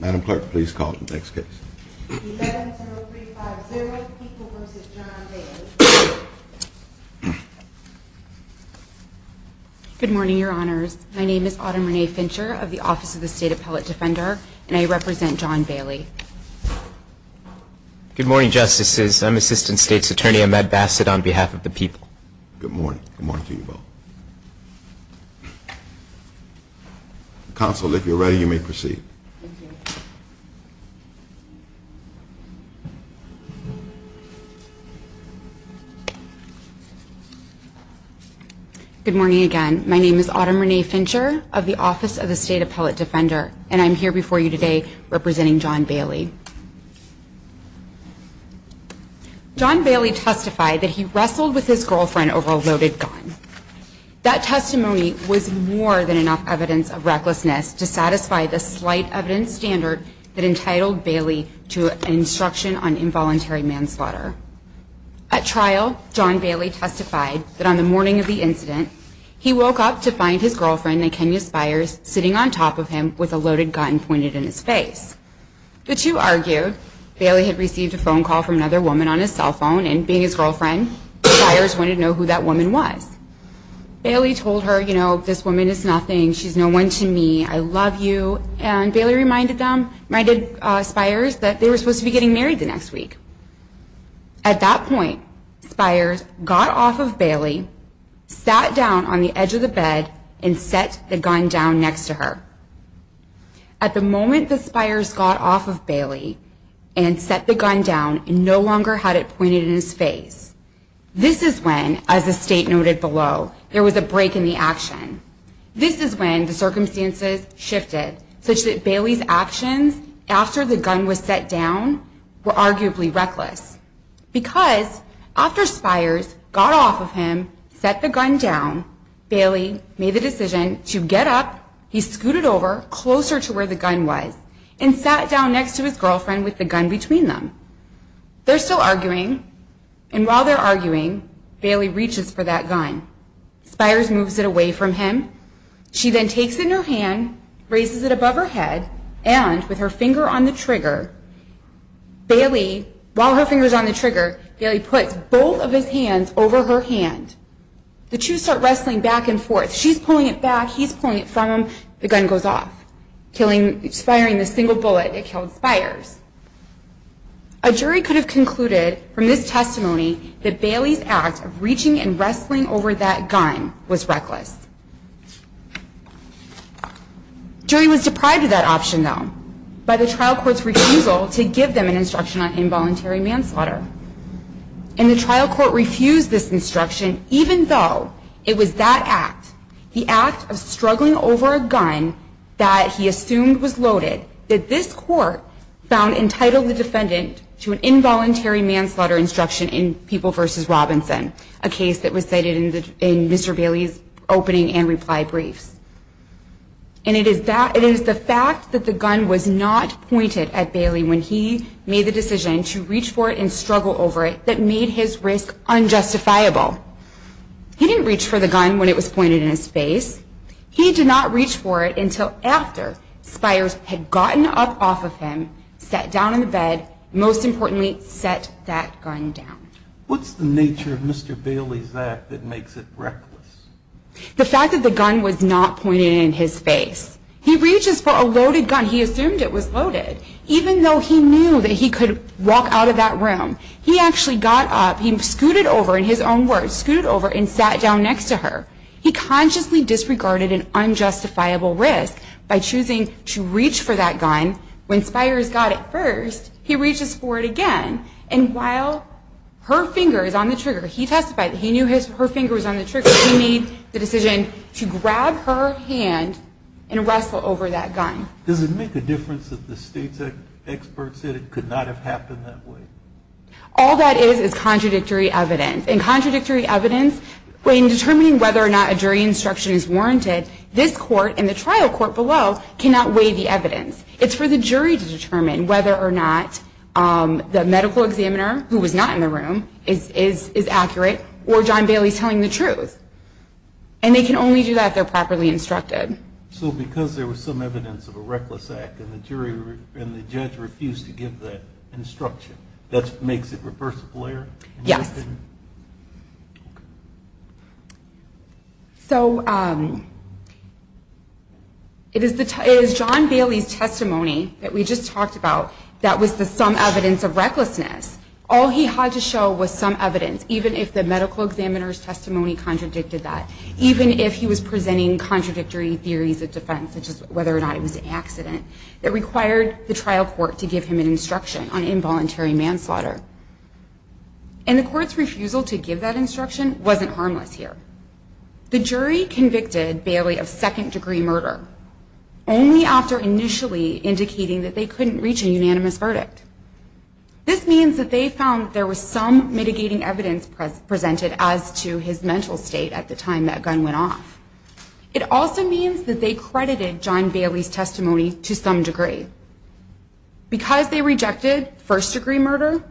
Madam Clerk, please call the next case. 11-035-0, People v. John Bailey. Good morning, Your Honors. My name is Autumn Renee Fincher of the Office of the State Appellate Defender, and I represent John Bailey. Good morning, Justices. I'm Assistant State's Attorney Ahmed Bassett on behalf of the People. Good morning. Good morning to you both. Counsel, if you're ready, you may proceed. Good morning again. My name is Autumn Renee Fincher of the Office of the State Appellate Defender, and I'm here before you today representing John Bailey. John Bailey testified that he wrestled with his girlfriend over a loaded gun. That testimony was more than enough evidence of recklessness to satisfy the slight evidence standard that entitled Bailey to instruction on involuntary manslaughter. At trial, John Bailey testified that on the morning of the incident, he woke up to find his girlfriend, Nakenia Spiers, sitting on top of him with a loaded gun pointed in his face. The two argued. Bailey had received a phone call from another woman on his cell phone, and being his girlfriend, Spiers wanted to know who that woman was. Bailey told her, you know, this woman is nothing. She's no one to me. I love you. And Bailey reminded them, reminded Spiers, that they were supposed to be getting married the next week. At that point, Spiers got off of Bailey, sat down on the edge of the bed, and set the gun down next to her. At the moment that Spiers got off of Bailey and set the gun down, he no longer had it pointed in his face. This is when, as the state noted below, there was a break in the action. This is when the circumstances shifted, such that Bailey's actions after the gun was set down were arguably reckless. Because after Spiers got off of him, set the gun down, Bailey made the decision to get up, he scooted over closer to where the gun was, and sat down next to his girlfriend with the gun between them. They're still arguing, and while they're arguing, Bailey reaches for that gun. Spiers moves it away from him. She then takes it in her hand, raises it above her head, and with her finger on the trigger, Bailey, while her finger's on the trigger, Bailey puts both of his hands over her hand. The two start wrestling back and forth. She's pulling it back, he's pulling it from him. The gun goes off, firing the single bullet that killed Spiers. A jury could have concluded from this testimony that Bailey's act of reaching and wrestling over that gun was reckless. The jury was deprived of that option, though, by the trial court's refusal to give them an instruction on involuntary manslaughter. And the trial court refused this instruction, even though it was that act, the act of struggling over a gun that he assumed was loaded, that this court found entitled the defendant to an involuntary manslaughter instruction in People v. Robinson, a case that was cited in Mr. Bailey's opening and reply briefs. And it is the fact that the gun was not pointed at Bailey when he made the decision to reach for it and struggle over it that made his risk unjustifiable. He didn't reach for the gun when it was pointed in his face. He did not reach for it until after Spiers had gotten up off of him, sat down on the bed, and most importantly, set that gun down. What's the nature of Mr. Bailey's act that makes it reckless? The fact that the gun was not pointed in his face. He reaches for a loaded gun. He assumed it was loaded, even though he knew that he could walk out of that room. He actually got up. He scooted over, in his own words, scooted over and sat down next to her. He consciously disregarded an unjustifiable risk by choosing to reach for that gun. When Spiers got it first, he reaches for it again. And while her finger is on the trigger, he testified that he knew her finger was on the trigger. He made the decision to grab her hand and wrestle over that gun. Does it make a difference that the state's experts said it could not have happened that way? All that is is contradictory evidence. And contradictory evidence, when determining whether or not a jury instruction is warranted, this court and the trial court below cannot weigh the evidence. It's for the jury to determine whether or not the medical examiner, who was not in the room, is accurate, or John Bailey's telling the truth. And they can only do that if they're properly instructed. So because there was some evidence of a reckless act and the judge refused to give that instruction, that makes it reversible error? Yes. So it is John Bailey's testimony that we just talked about that was the some evidence of recklessness. All he had to show was some evidence, even if the medical examiner's testimony contradicted that. Even if he was presenting contradictory theories of defense, such as whether or not it was an accident, that required the trial court to give him an instruction on involuntary manslaughter. And the court's refusal to give that instruction wasn't harmless here. The jury convicted Bailey of second-degree murder only after initially indicating that they couldn't reach a unanimous verdict. This means that they found there was some mitigating evidence presented as to his mental state at the time that gun went off. It also means that they credited John Bailey's testimony to some degree. Because they rejected first-degree murder,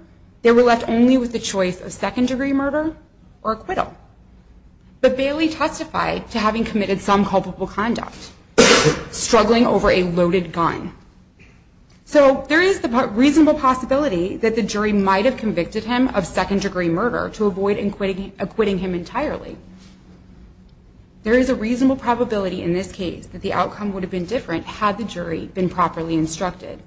they were left only with the choice of second-degree murder or acquittal. But Bailey testified to having committed some culpable conduct, struggling over a loaded gun. So there is the reasonable possibility that the jury might have convicted him of second-degree murder to avoid acquitting him entirely. There is a reasonable probability in this case that the outcome would have been different had the jury been properly instructed.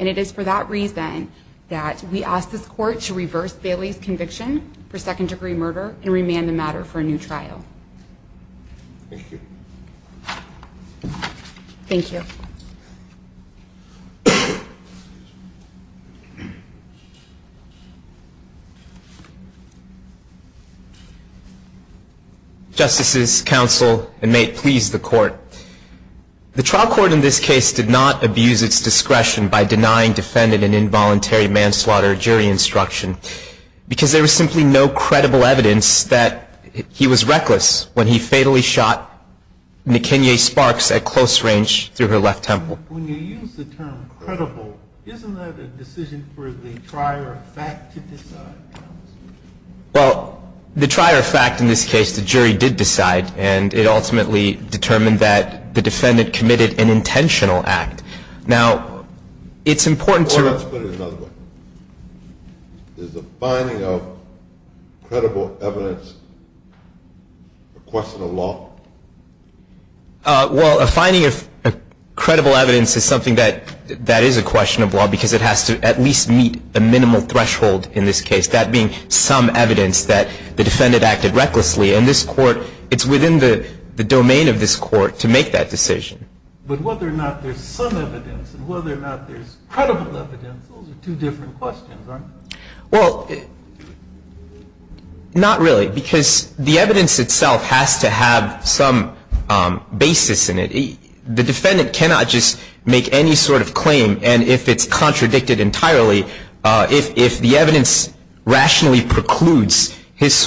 And it is for that reason that we ask this court to reverse Bailey's conviction for second-degree murder and remand the matter for a new trial. Thank you. Thank you. Justices, counsel, and may it please the court. The trial court in this case did not abuse its discretion by denying defendant an involuntary manslaughter jury instruction. Because there was simply no credible evidence that he was reckless when he fatally shot Nkenye Sparks at close range through her left temple. When you use the term credible, isn't that a decision for the trier of fact to decide? Well, the trier of fact in this case, the jury did decide. And it ultimately determined that the defendant committed an intentional act. Now, it's important to... Let's put it another way. Is the finding of credible evidence a question of law? Well, a finding of credible evidence is something that is a question of law because it has to at least meet a minimal threshold in this case. That being some evidence that the defendant acted recklessly. And this court, it's within the domain of this court to make that decision. But whether or not there's some evidence and whether or not there's credible evidence, those are two different questions, right? Well, not really. Because the evidence itself has to have some basis in it. The defendant cannot just make any sort of claim. And if it's contradicted entirely, if the evidence rationally precludes his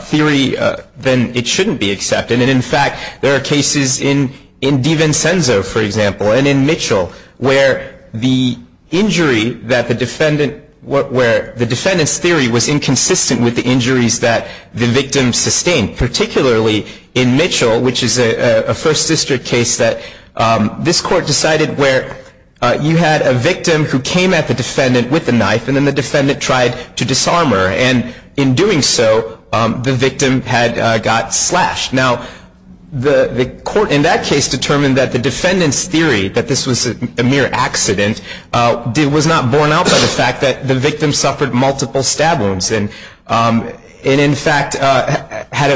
theory, then it shouldn't be accepted. And in fact, there are cases in DiVincenzo, for example, and in Mitchell, where the defendant's theory was inconsistent with the injuries that the victim sustained. Particularly in Mitchell, which is a First District case that this court decided where you had a victim who came at the defendant with a knife and then the defendant tried to disarm her. And in doing so, the victim had got slashed. Now, the court in that case determined that the defendant's theory that this was a mere accident was not borne out by the fact that the victim suffered multiple stab wounds and in fact had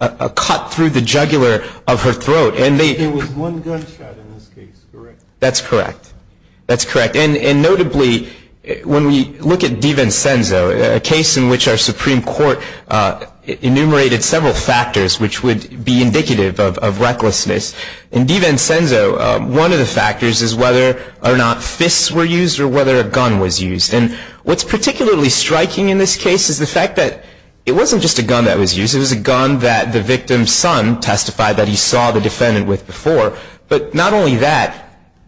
a cut through the jugular of her throat. There was one gunshot in this case, correct? That's correct. That's correct. And notably, when we look at DiVincenzo, a case in which our Supreme Court enumerated several factors which would be indicative of recklessness. In DiVincenzo, one of the factors is whether or not fists were used or whether a gun was used. And what's particularly striking in this case is the fact that it wasn't just a gun that was used. It was a gun that the victim's son testified that he saw the defendant with before. But not only that,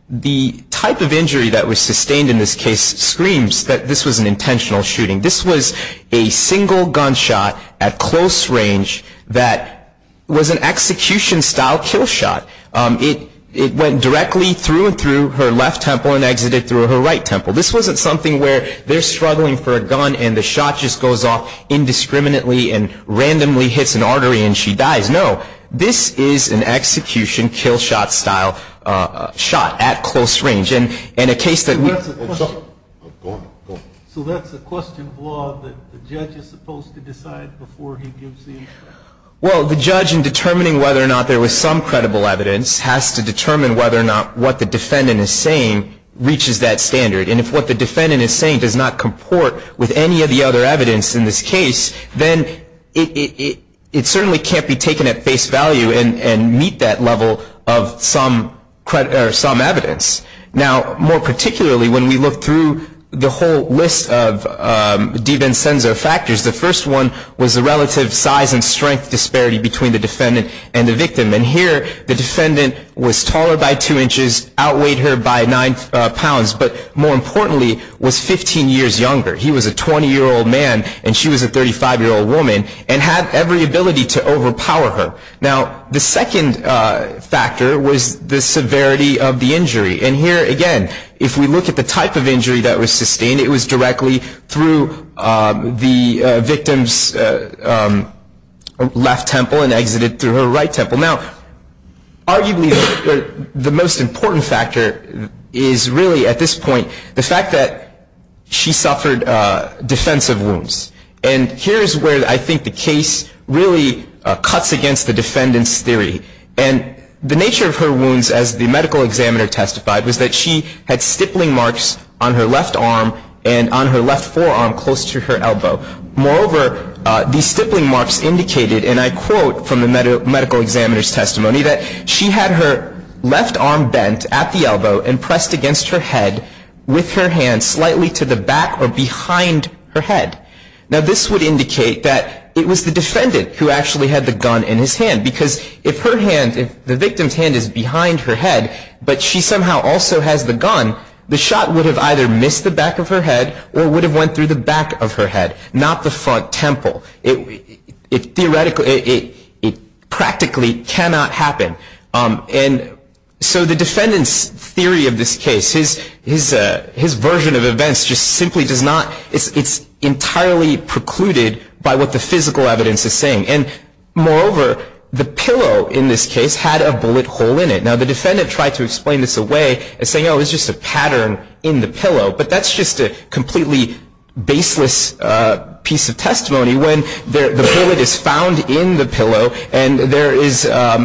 the type of injury that was sustained in this case screams that this was an intentional shooting. This was a single gunshot at close range that was an execution-style kill shot. It went directly through and through her left temple and exited through her right temple. This wasn't something where they're struggling for a gun and the shot just goes off indiscriminately and randomly hits an artery and she dies. No. This is an execution kill shot style shot at close range. And a case that we- So that's a question of law that the judge is supposed to decide before he gives the- Well, the judge, in determining whether or not there was some credible evidence, has to determine whether or not what the defendant is saying reaches that standard. And if what the defendant is saying does not comport with any of the other evidence in this case, then it certainly can't be taken at face value and meet that level of some evidence. Now, more particularly, when we look through the whole list of de Vincenzo factors, the first one was the relative size and strength disparity between the defendant and the victim. And here the defendant was taller by two inches, outweighed her by nine pounds. But more importantly, was 15 years younger. He was a 20-year-old man and she was a 35-year-old woman and had every ability to overpower her. Now, the second factor was the severity of the injury. And here, again, if we look at the type of injury that was sustained, it was directly through the victim's left temple and exited through her right temple. Now, arguably the most important factor is really at this point the fact that she suffered defensive wounds. And here is where I think the case really cuts against the defendant's theory. And the nature of her wounds, as the medical examiner testified, was that she had stippling marks on her left arm and on her left forearm close to her elbow. Moreover, these stippling marks indicated, and I quote from the medical examiner's testimony, that she had her left arm bent at the elbow and pressed against her head with her hand slightly to the back or behind her head. Now, this would indicate that it was the defendant who actually had the gun in his hand. Because if her hand, if the victim's hand is behind her head, but she somehow also has the gun, the shot would have either missed the back of her head or would have went through the back of her head, not the front temple. It theoretically, it practically cannot happen. And so the defendant's theory of this case, his version of events just simply does not, it's entirely precluded by what the physical evidence is saying. And moreover, the pillow in this case had a bullet hole in it. Now, the defendant tried to explain this away as saying, oh, it's just a pattern in the pillow. But that's just a completely baseless piece of testimony when the bullet is found in the pillow and there is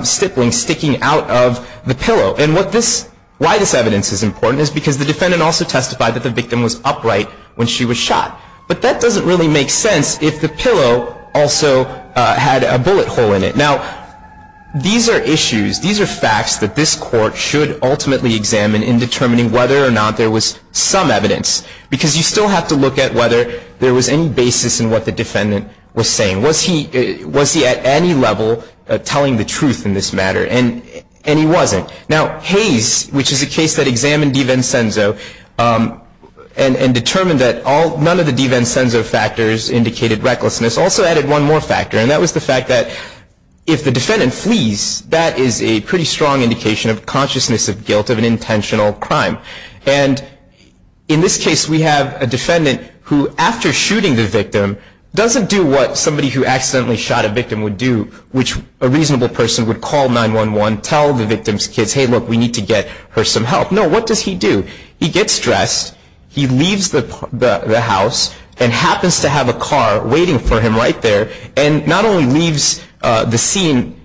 stippling sticking out of the pillow. And what this, why this evidence is important is because the defendant also testified that the victim was upright when she was shot. But that doesn't really make sense if the pillow also had a bullet hole in it. Now, these are issues, these are facts that this court should ultimately examine in determining whether or not there was some evidence. Because you still have to look at whether there was any basis in what the defendant was saying. Was he at any level telling the truth in this matter? And he wasn't. Now, Hayes, which is a case that examined DiVincenzo and determined that none of the DiVincenzo factors indicated recklessness, also added one more factor, and that was the fact that if the defendant flees, that is a pretty strong indication of consciousness of guilt of an intentional crime. And in this case, we have a defendant who, after shooting the victim, doesn't do what somebody who accidentally shot a victim would do, which a reasonable person would call 911, tell the victim's kids, hey, look, we need to get her some help. No, what does he do? He gets dressed. He leaves the house and happens to have a car waiting for him right there, and not only leaves the scene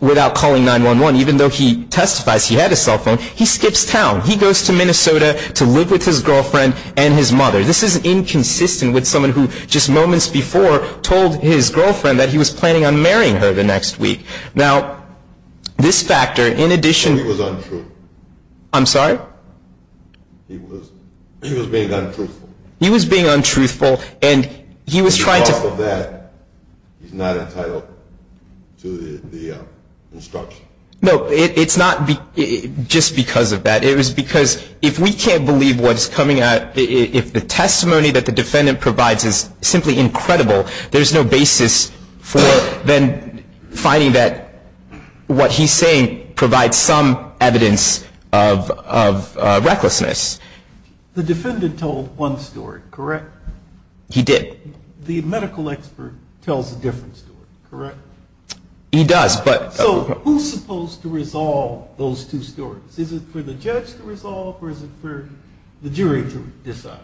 without calling 911, even though he testifies he had a cell phone, he skips town. He goes to Minnesota to live with his girlfriend and his mother. This is inconsistent with someone who just moments before told his girlfriend that he was planning on marrying her the next week. Now, this factor, in addition to... It was untrue. I'm sorry? He was being untruthful. He was being untruthful, and he was trying to... Because of that, he's not entitled to the instruction. No, it's not just because of that. It was because if we can't believe what's coming out, if the testimony that the defendant provides is simply incredible, there's no basis for then finding that what he's saying provides some evidence of recklessness. The defendant told one story, correct? He did. The medical expert tells a different story, correct? He does, but... So who's supposed to resolve those two stories? Is it for the judge to resolve, or is it for the jury to decide?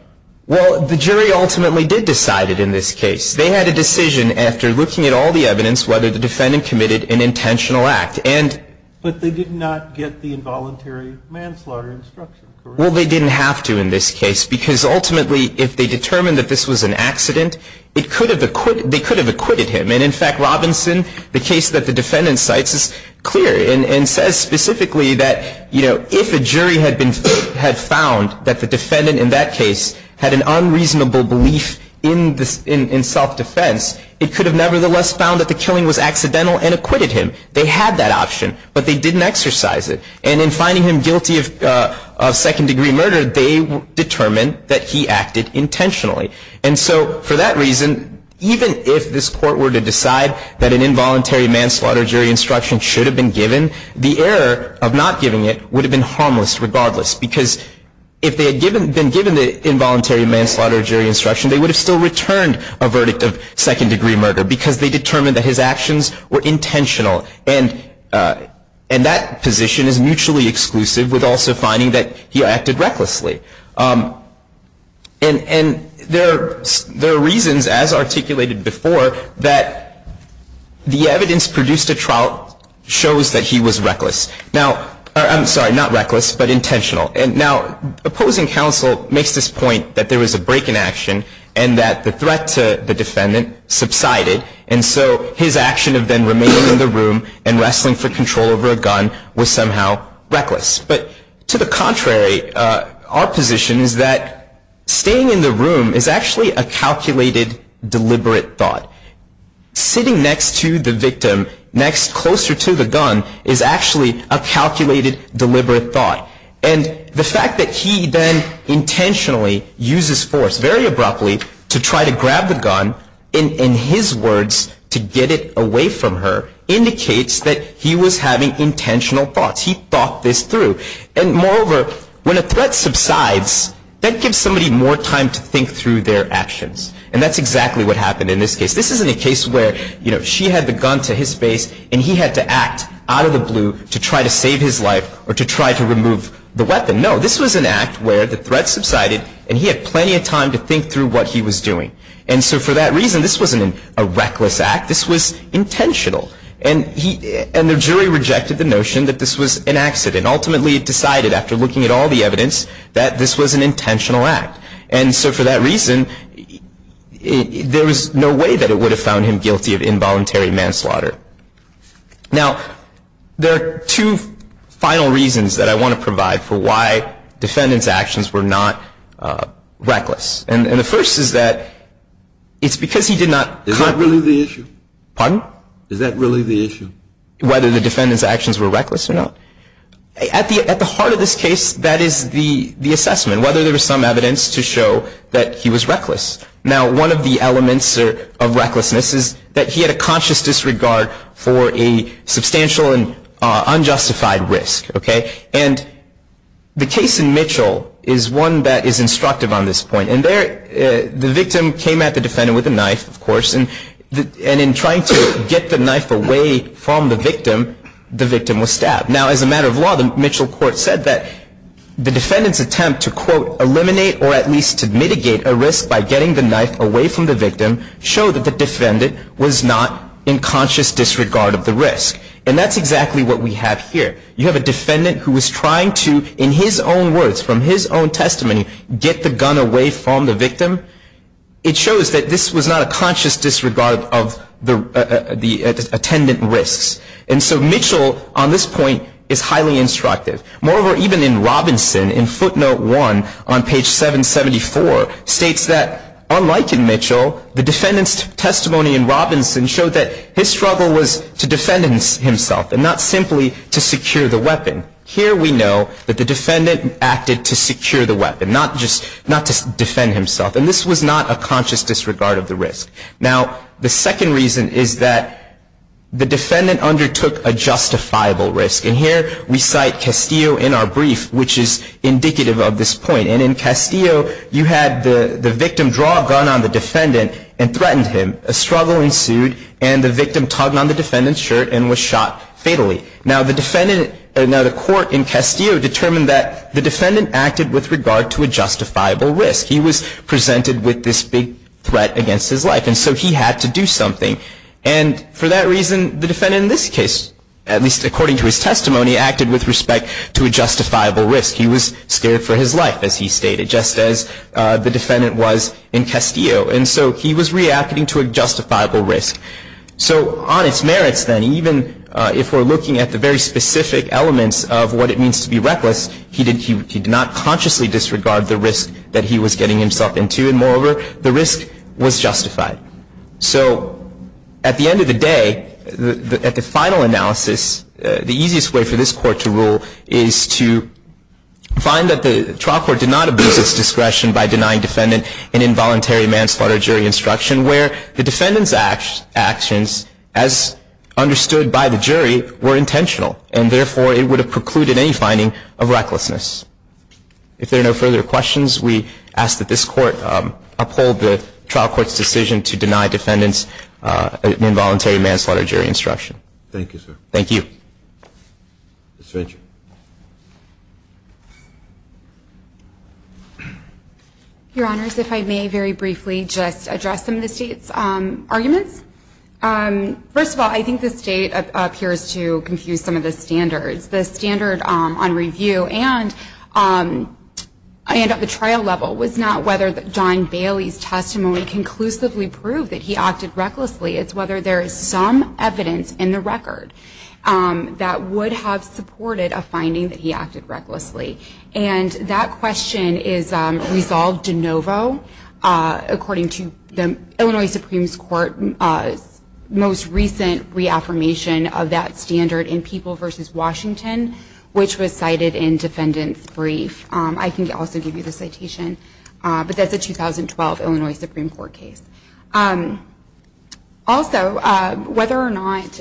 Well, the jury ultimately did decide it in this case. They had a decision after looking at all the evidence whether the defendant committed an intentional act, and... But they did not get the involuntary manslaughter instruction, correct? Well, they didn't have to in this case, because ultimately, if they determined that this was an accident, they could have acquitted him. And in fact, Robinson, the case that the defendant cites is clear and says specifically that, you know, if a jury had found that the defendant in that case had an unreasonable belief in self-defense, it could have nevertheless found that the killing was accidental and acquitted him. They had that option, but they didn't exercise it. And in finding him guilty of second-degree murder, they determined that he acted intentionally. And so for that reason, even if this court were to decide that an involuntary manslaughter jury instruction should have been given, the error of not giving it would have been harmless regardless, because if they had been given the involuntary manslaughter jury instruction, they would have still returned a verdict of second-degree murder, because they determined that his actions were intentional. And that position is mutually exclusive with also finding that he acted recklessly. And there are reasons, as articulated before, that the evidence produced at trial shows that he was reckless. Now, I'm sorry, not reckless, but intentional. And now, opposing counsel makes this point that there was a break in action and that the threat to the defendant subsided, and so his action of then remaining in the room and wrestling for control over a gun was somehow reckless. But to the contrary, our position is that staying in the room is actually a calculated, deliberate thought. Sitting next to the victim, next closer to the gun, is actually a calculated, deliberate thought. And the fact that he then intentionally uses force, very abruptly, to try to grab the gun, in his words, to get it away from her, indicates that he was having intentional thoughts. He thought this through. And moreover, when a threat subsides, that gives somebody more time to think through their actions. And that's exactly what happened in this case. This isn't a case where, you know, she had the gun to his face and he had to act out of the blue to try to save his life or to try to remove the weapon. No, this was an act where the threat subsided and he had plenty of time to think through what he was doing. And so for that reason, this wasn't a reckless act. This was intentional. And the jury rejected the notion that this was an accident. Ultimately, it decided, after looking at all the evidence, that this was an intentional act. And so for that reason, there was no way that it would have found him guilty of involuntary manslaughter. Now, there are two final reasons that I want to provide for why defendant's actions were not reckless. And the first is that it's because he did not cover the issue. Is that really the issue? Whether the defendant's actions were reckless or not? At the heart of this case, that is the assessment, whether there was some evidence to show that he was reckless. Now, one of the elements of recklessness is that he had a conscious disregard for a substantial and unjustified risk. Okay? And the case in Mitchell is one that is instructive on this point. And the victim came at the defendant with a knife, of course. And in trying to get the knife away from the victim, the victim was stabbed. Now, as a matter of law, the Mitchell court said that the defendant's attempt to, quote, eliminate or at least to mitigate a risk by getting the knife away from the victim showed that the defendant was not in conscious disregard of the risk. And that's exactly what we have here. You have a defendant who was trying to, in his own words, from his own testimony, get the gun away from the victim. It shows that this was not a conscious disregard of the attendant risks. And so Mitchell, on this point, is highly instructive. Moreover, even in Robinson, in footnote 1 on page 774, states that unlike in Mitchell, the defendant's testimony in Robinson showed that his struggle was to defend himself and not simply to secure the weapon. Here we know that the defendant acted to secure the weapon, not just defend himself. And this was not a conscious disregard of the risk. Now, the second reason is that the defendant undertook a justifiable risk. And here we cite Castillo in our brief, which is indicative of this point. And in Castillo, you had the victim draw a gun on the defendant and threatened him. A struggle ensued, and the victim tugged on the defendant's shirt and was shot fatally. Now, the court in Castillo determined that the defendant acted with regard to a justifiable risk. He was presented with this big threat against his life, and so he had to do something. And for that reason, the defendant in this case, at least according to his testimony, acted with respect to a justifiable risk. He was scared for his life, as he stated, just as the defendant was in Castillo. And so he was reacting to a justifiable risk. So on its merits, then, even if we're looking at the very specific elements of what it means to be reckless, he did not consciously disregard the risk that he was getting himself into. And moreover, the risk was justified. So at the end of the day, at the final analysis, the easiest way for this court to rule is to find that the trial court did not abuse its discretion by denying defendant an involuntary manslaughter jury instruction, where the defendant's actions, as understood by the jury, were intentional. And therefore, it would have precluded any finding of recklessness. If there are no further questions, we ask that this court uphold the trial court's decision to deny defendants an involuntary manslaughter jury instruction. Thank you, sir. Thank you. Ms. Fitch. Your Honors, if I may very briefly just address some of the State's arguments. First of all, I think the State appears to confuse some of the standards. The standard on review and at the trial level was not whether John Bailey's testimony conclusively proved that he acted recklessly. It's whether there is some evidence in the record that would have supported a finding that he acted recklessly. And that question is resolved de novo according to the Illinois Supreme Court's most recent reaffirmation of that standard in People v. Washington, which was cited in Defendant's Brief. I can also give you the citation. But that's a 2012 Illinois Supreme Court case. Also, whether or not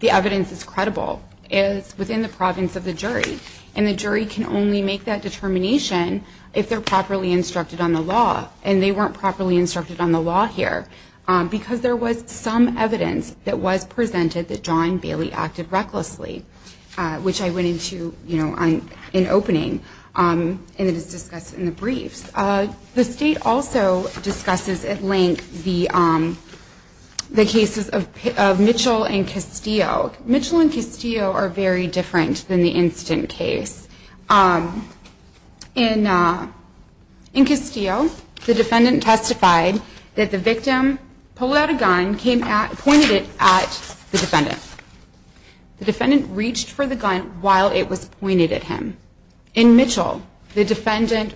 the evidence is credible is within the province of the jury. And the jury can only make that determination if they're properly instructed on the law. And they weren't properly instructed on the law here because there was some evidence that was presented that John Bailey acted recklessly, which I went into, you know, in opening. And it is discussed in the briefs. The State also discusses at length the cases of Mitchell and Castillo. Mitchell and Castillo are very different than the instant case. In Castillo, the defendant testified that the victim pulled out a gun, pointed it at the defendant. The defendant reached for the gun while it was pointed at him. In Mitchell, the defendant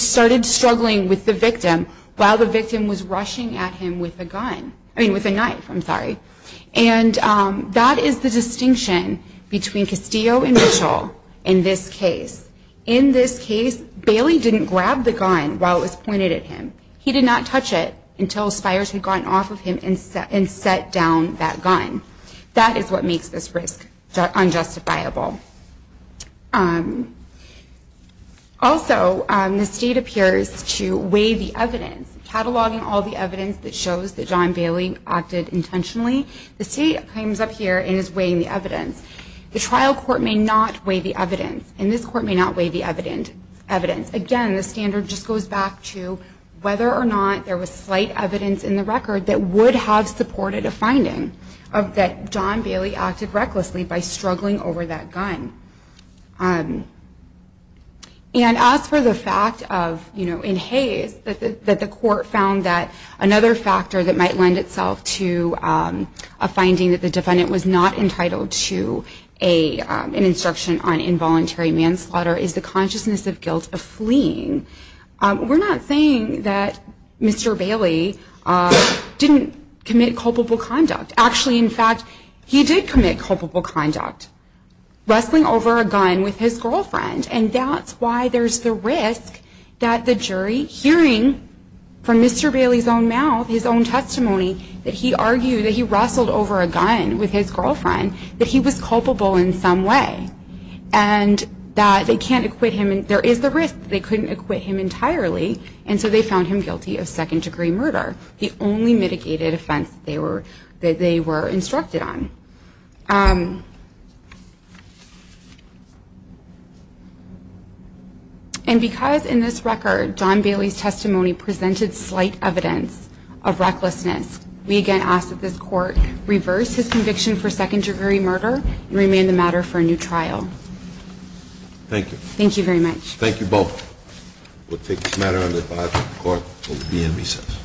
started struggling with the victim while the victim was rushing at him with a gun. I mean, with a knife, I'm sorry. And that is the distinction between Castillo and Mitchell in this case. In this case, Bailey didn't grab the gun while it was pointed at him. He did not touch it until spires had gotten off of him and set down that gun. That is what makes this risk unjustifiable. Also, the State appears to weigh the evidence, cataloging all the evidence that shows that John Bailey acted intentionally. The State comes up here and is weighing the evidence. The trial court may not weigh the evidence, and this court may not weigh the evidence. Again, the standard just goes back to whether or not there was slight evidence in the record that would have supported a finding that John Bailey acted recklessly by struggling over that gun. And as for the fact of, you know, in Hays, that the court found that another factor that might lend itself to a finding that the defendant was not entitled to an instruction on involuntary manslaughter is the consciousness of guilt of fleeing. We're not saying that Mr. Bailey didn't commit culpable conduct. Actually, in fact, he did commit culpable conduct, wrestling over a gun with his girlfriend. And that's why there's the risk that the jury, hearing from Mr. Bailey's own mouth, his own testimony, that he argued that he wrestled over a gun with his girlfriend, that he was culpable in some way, and that they can't acquit him. There is the risk that they couldn't acquit him entirely, and so they found him guilty of second-degree murder, the only mitigated offense that they were instructed on. And because in this record John Bailey's testimony presented slight evidence of recklessness, we again ask that this court reverse his conviction for second-degree murder and remain the matter for a new trial. Thank you. Thank you very much. Thank you both. We'll take this matter under advisory of the court. We'll be in recess.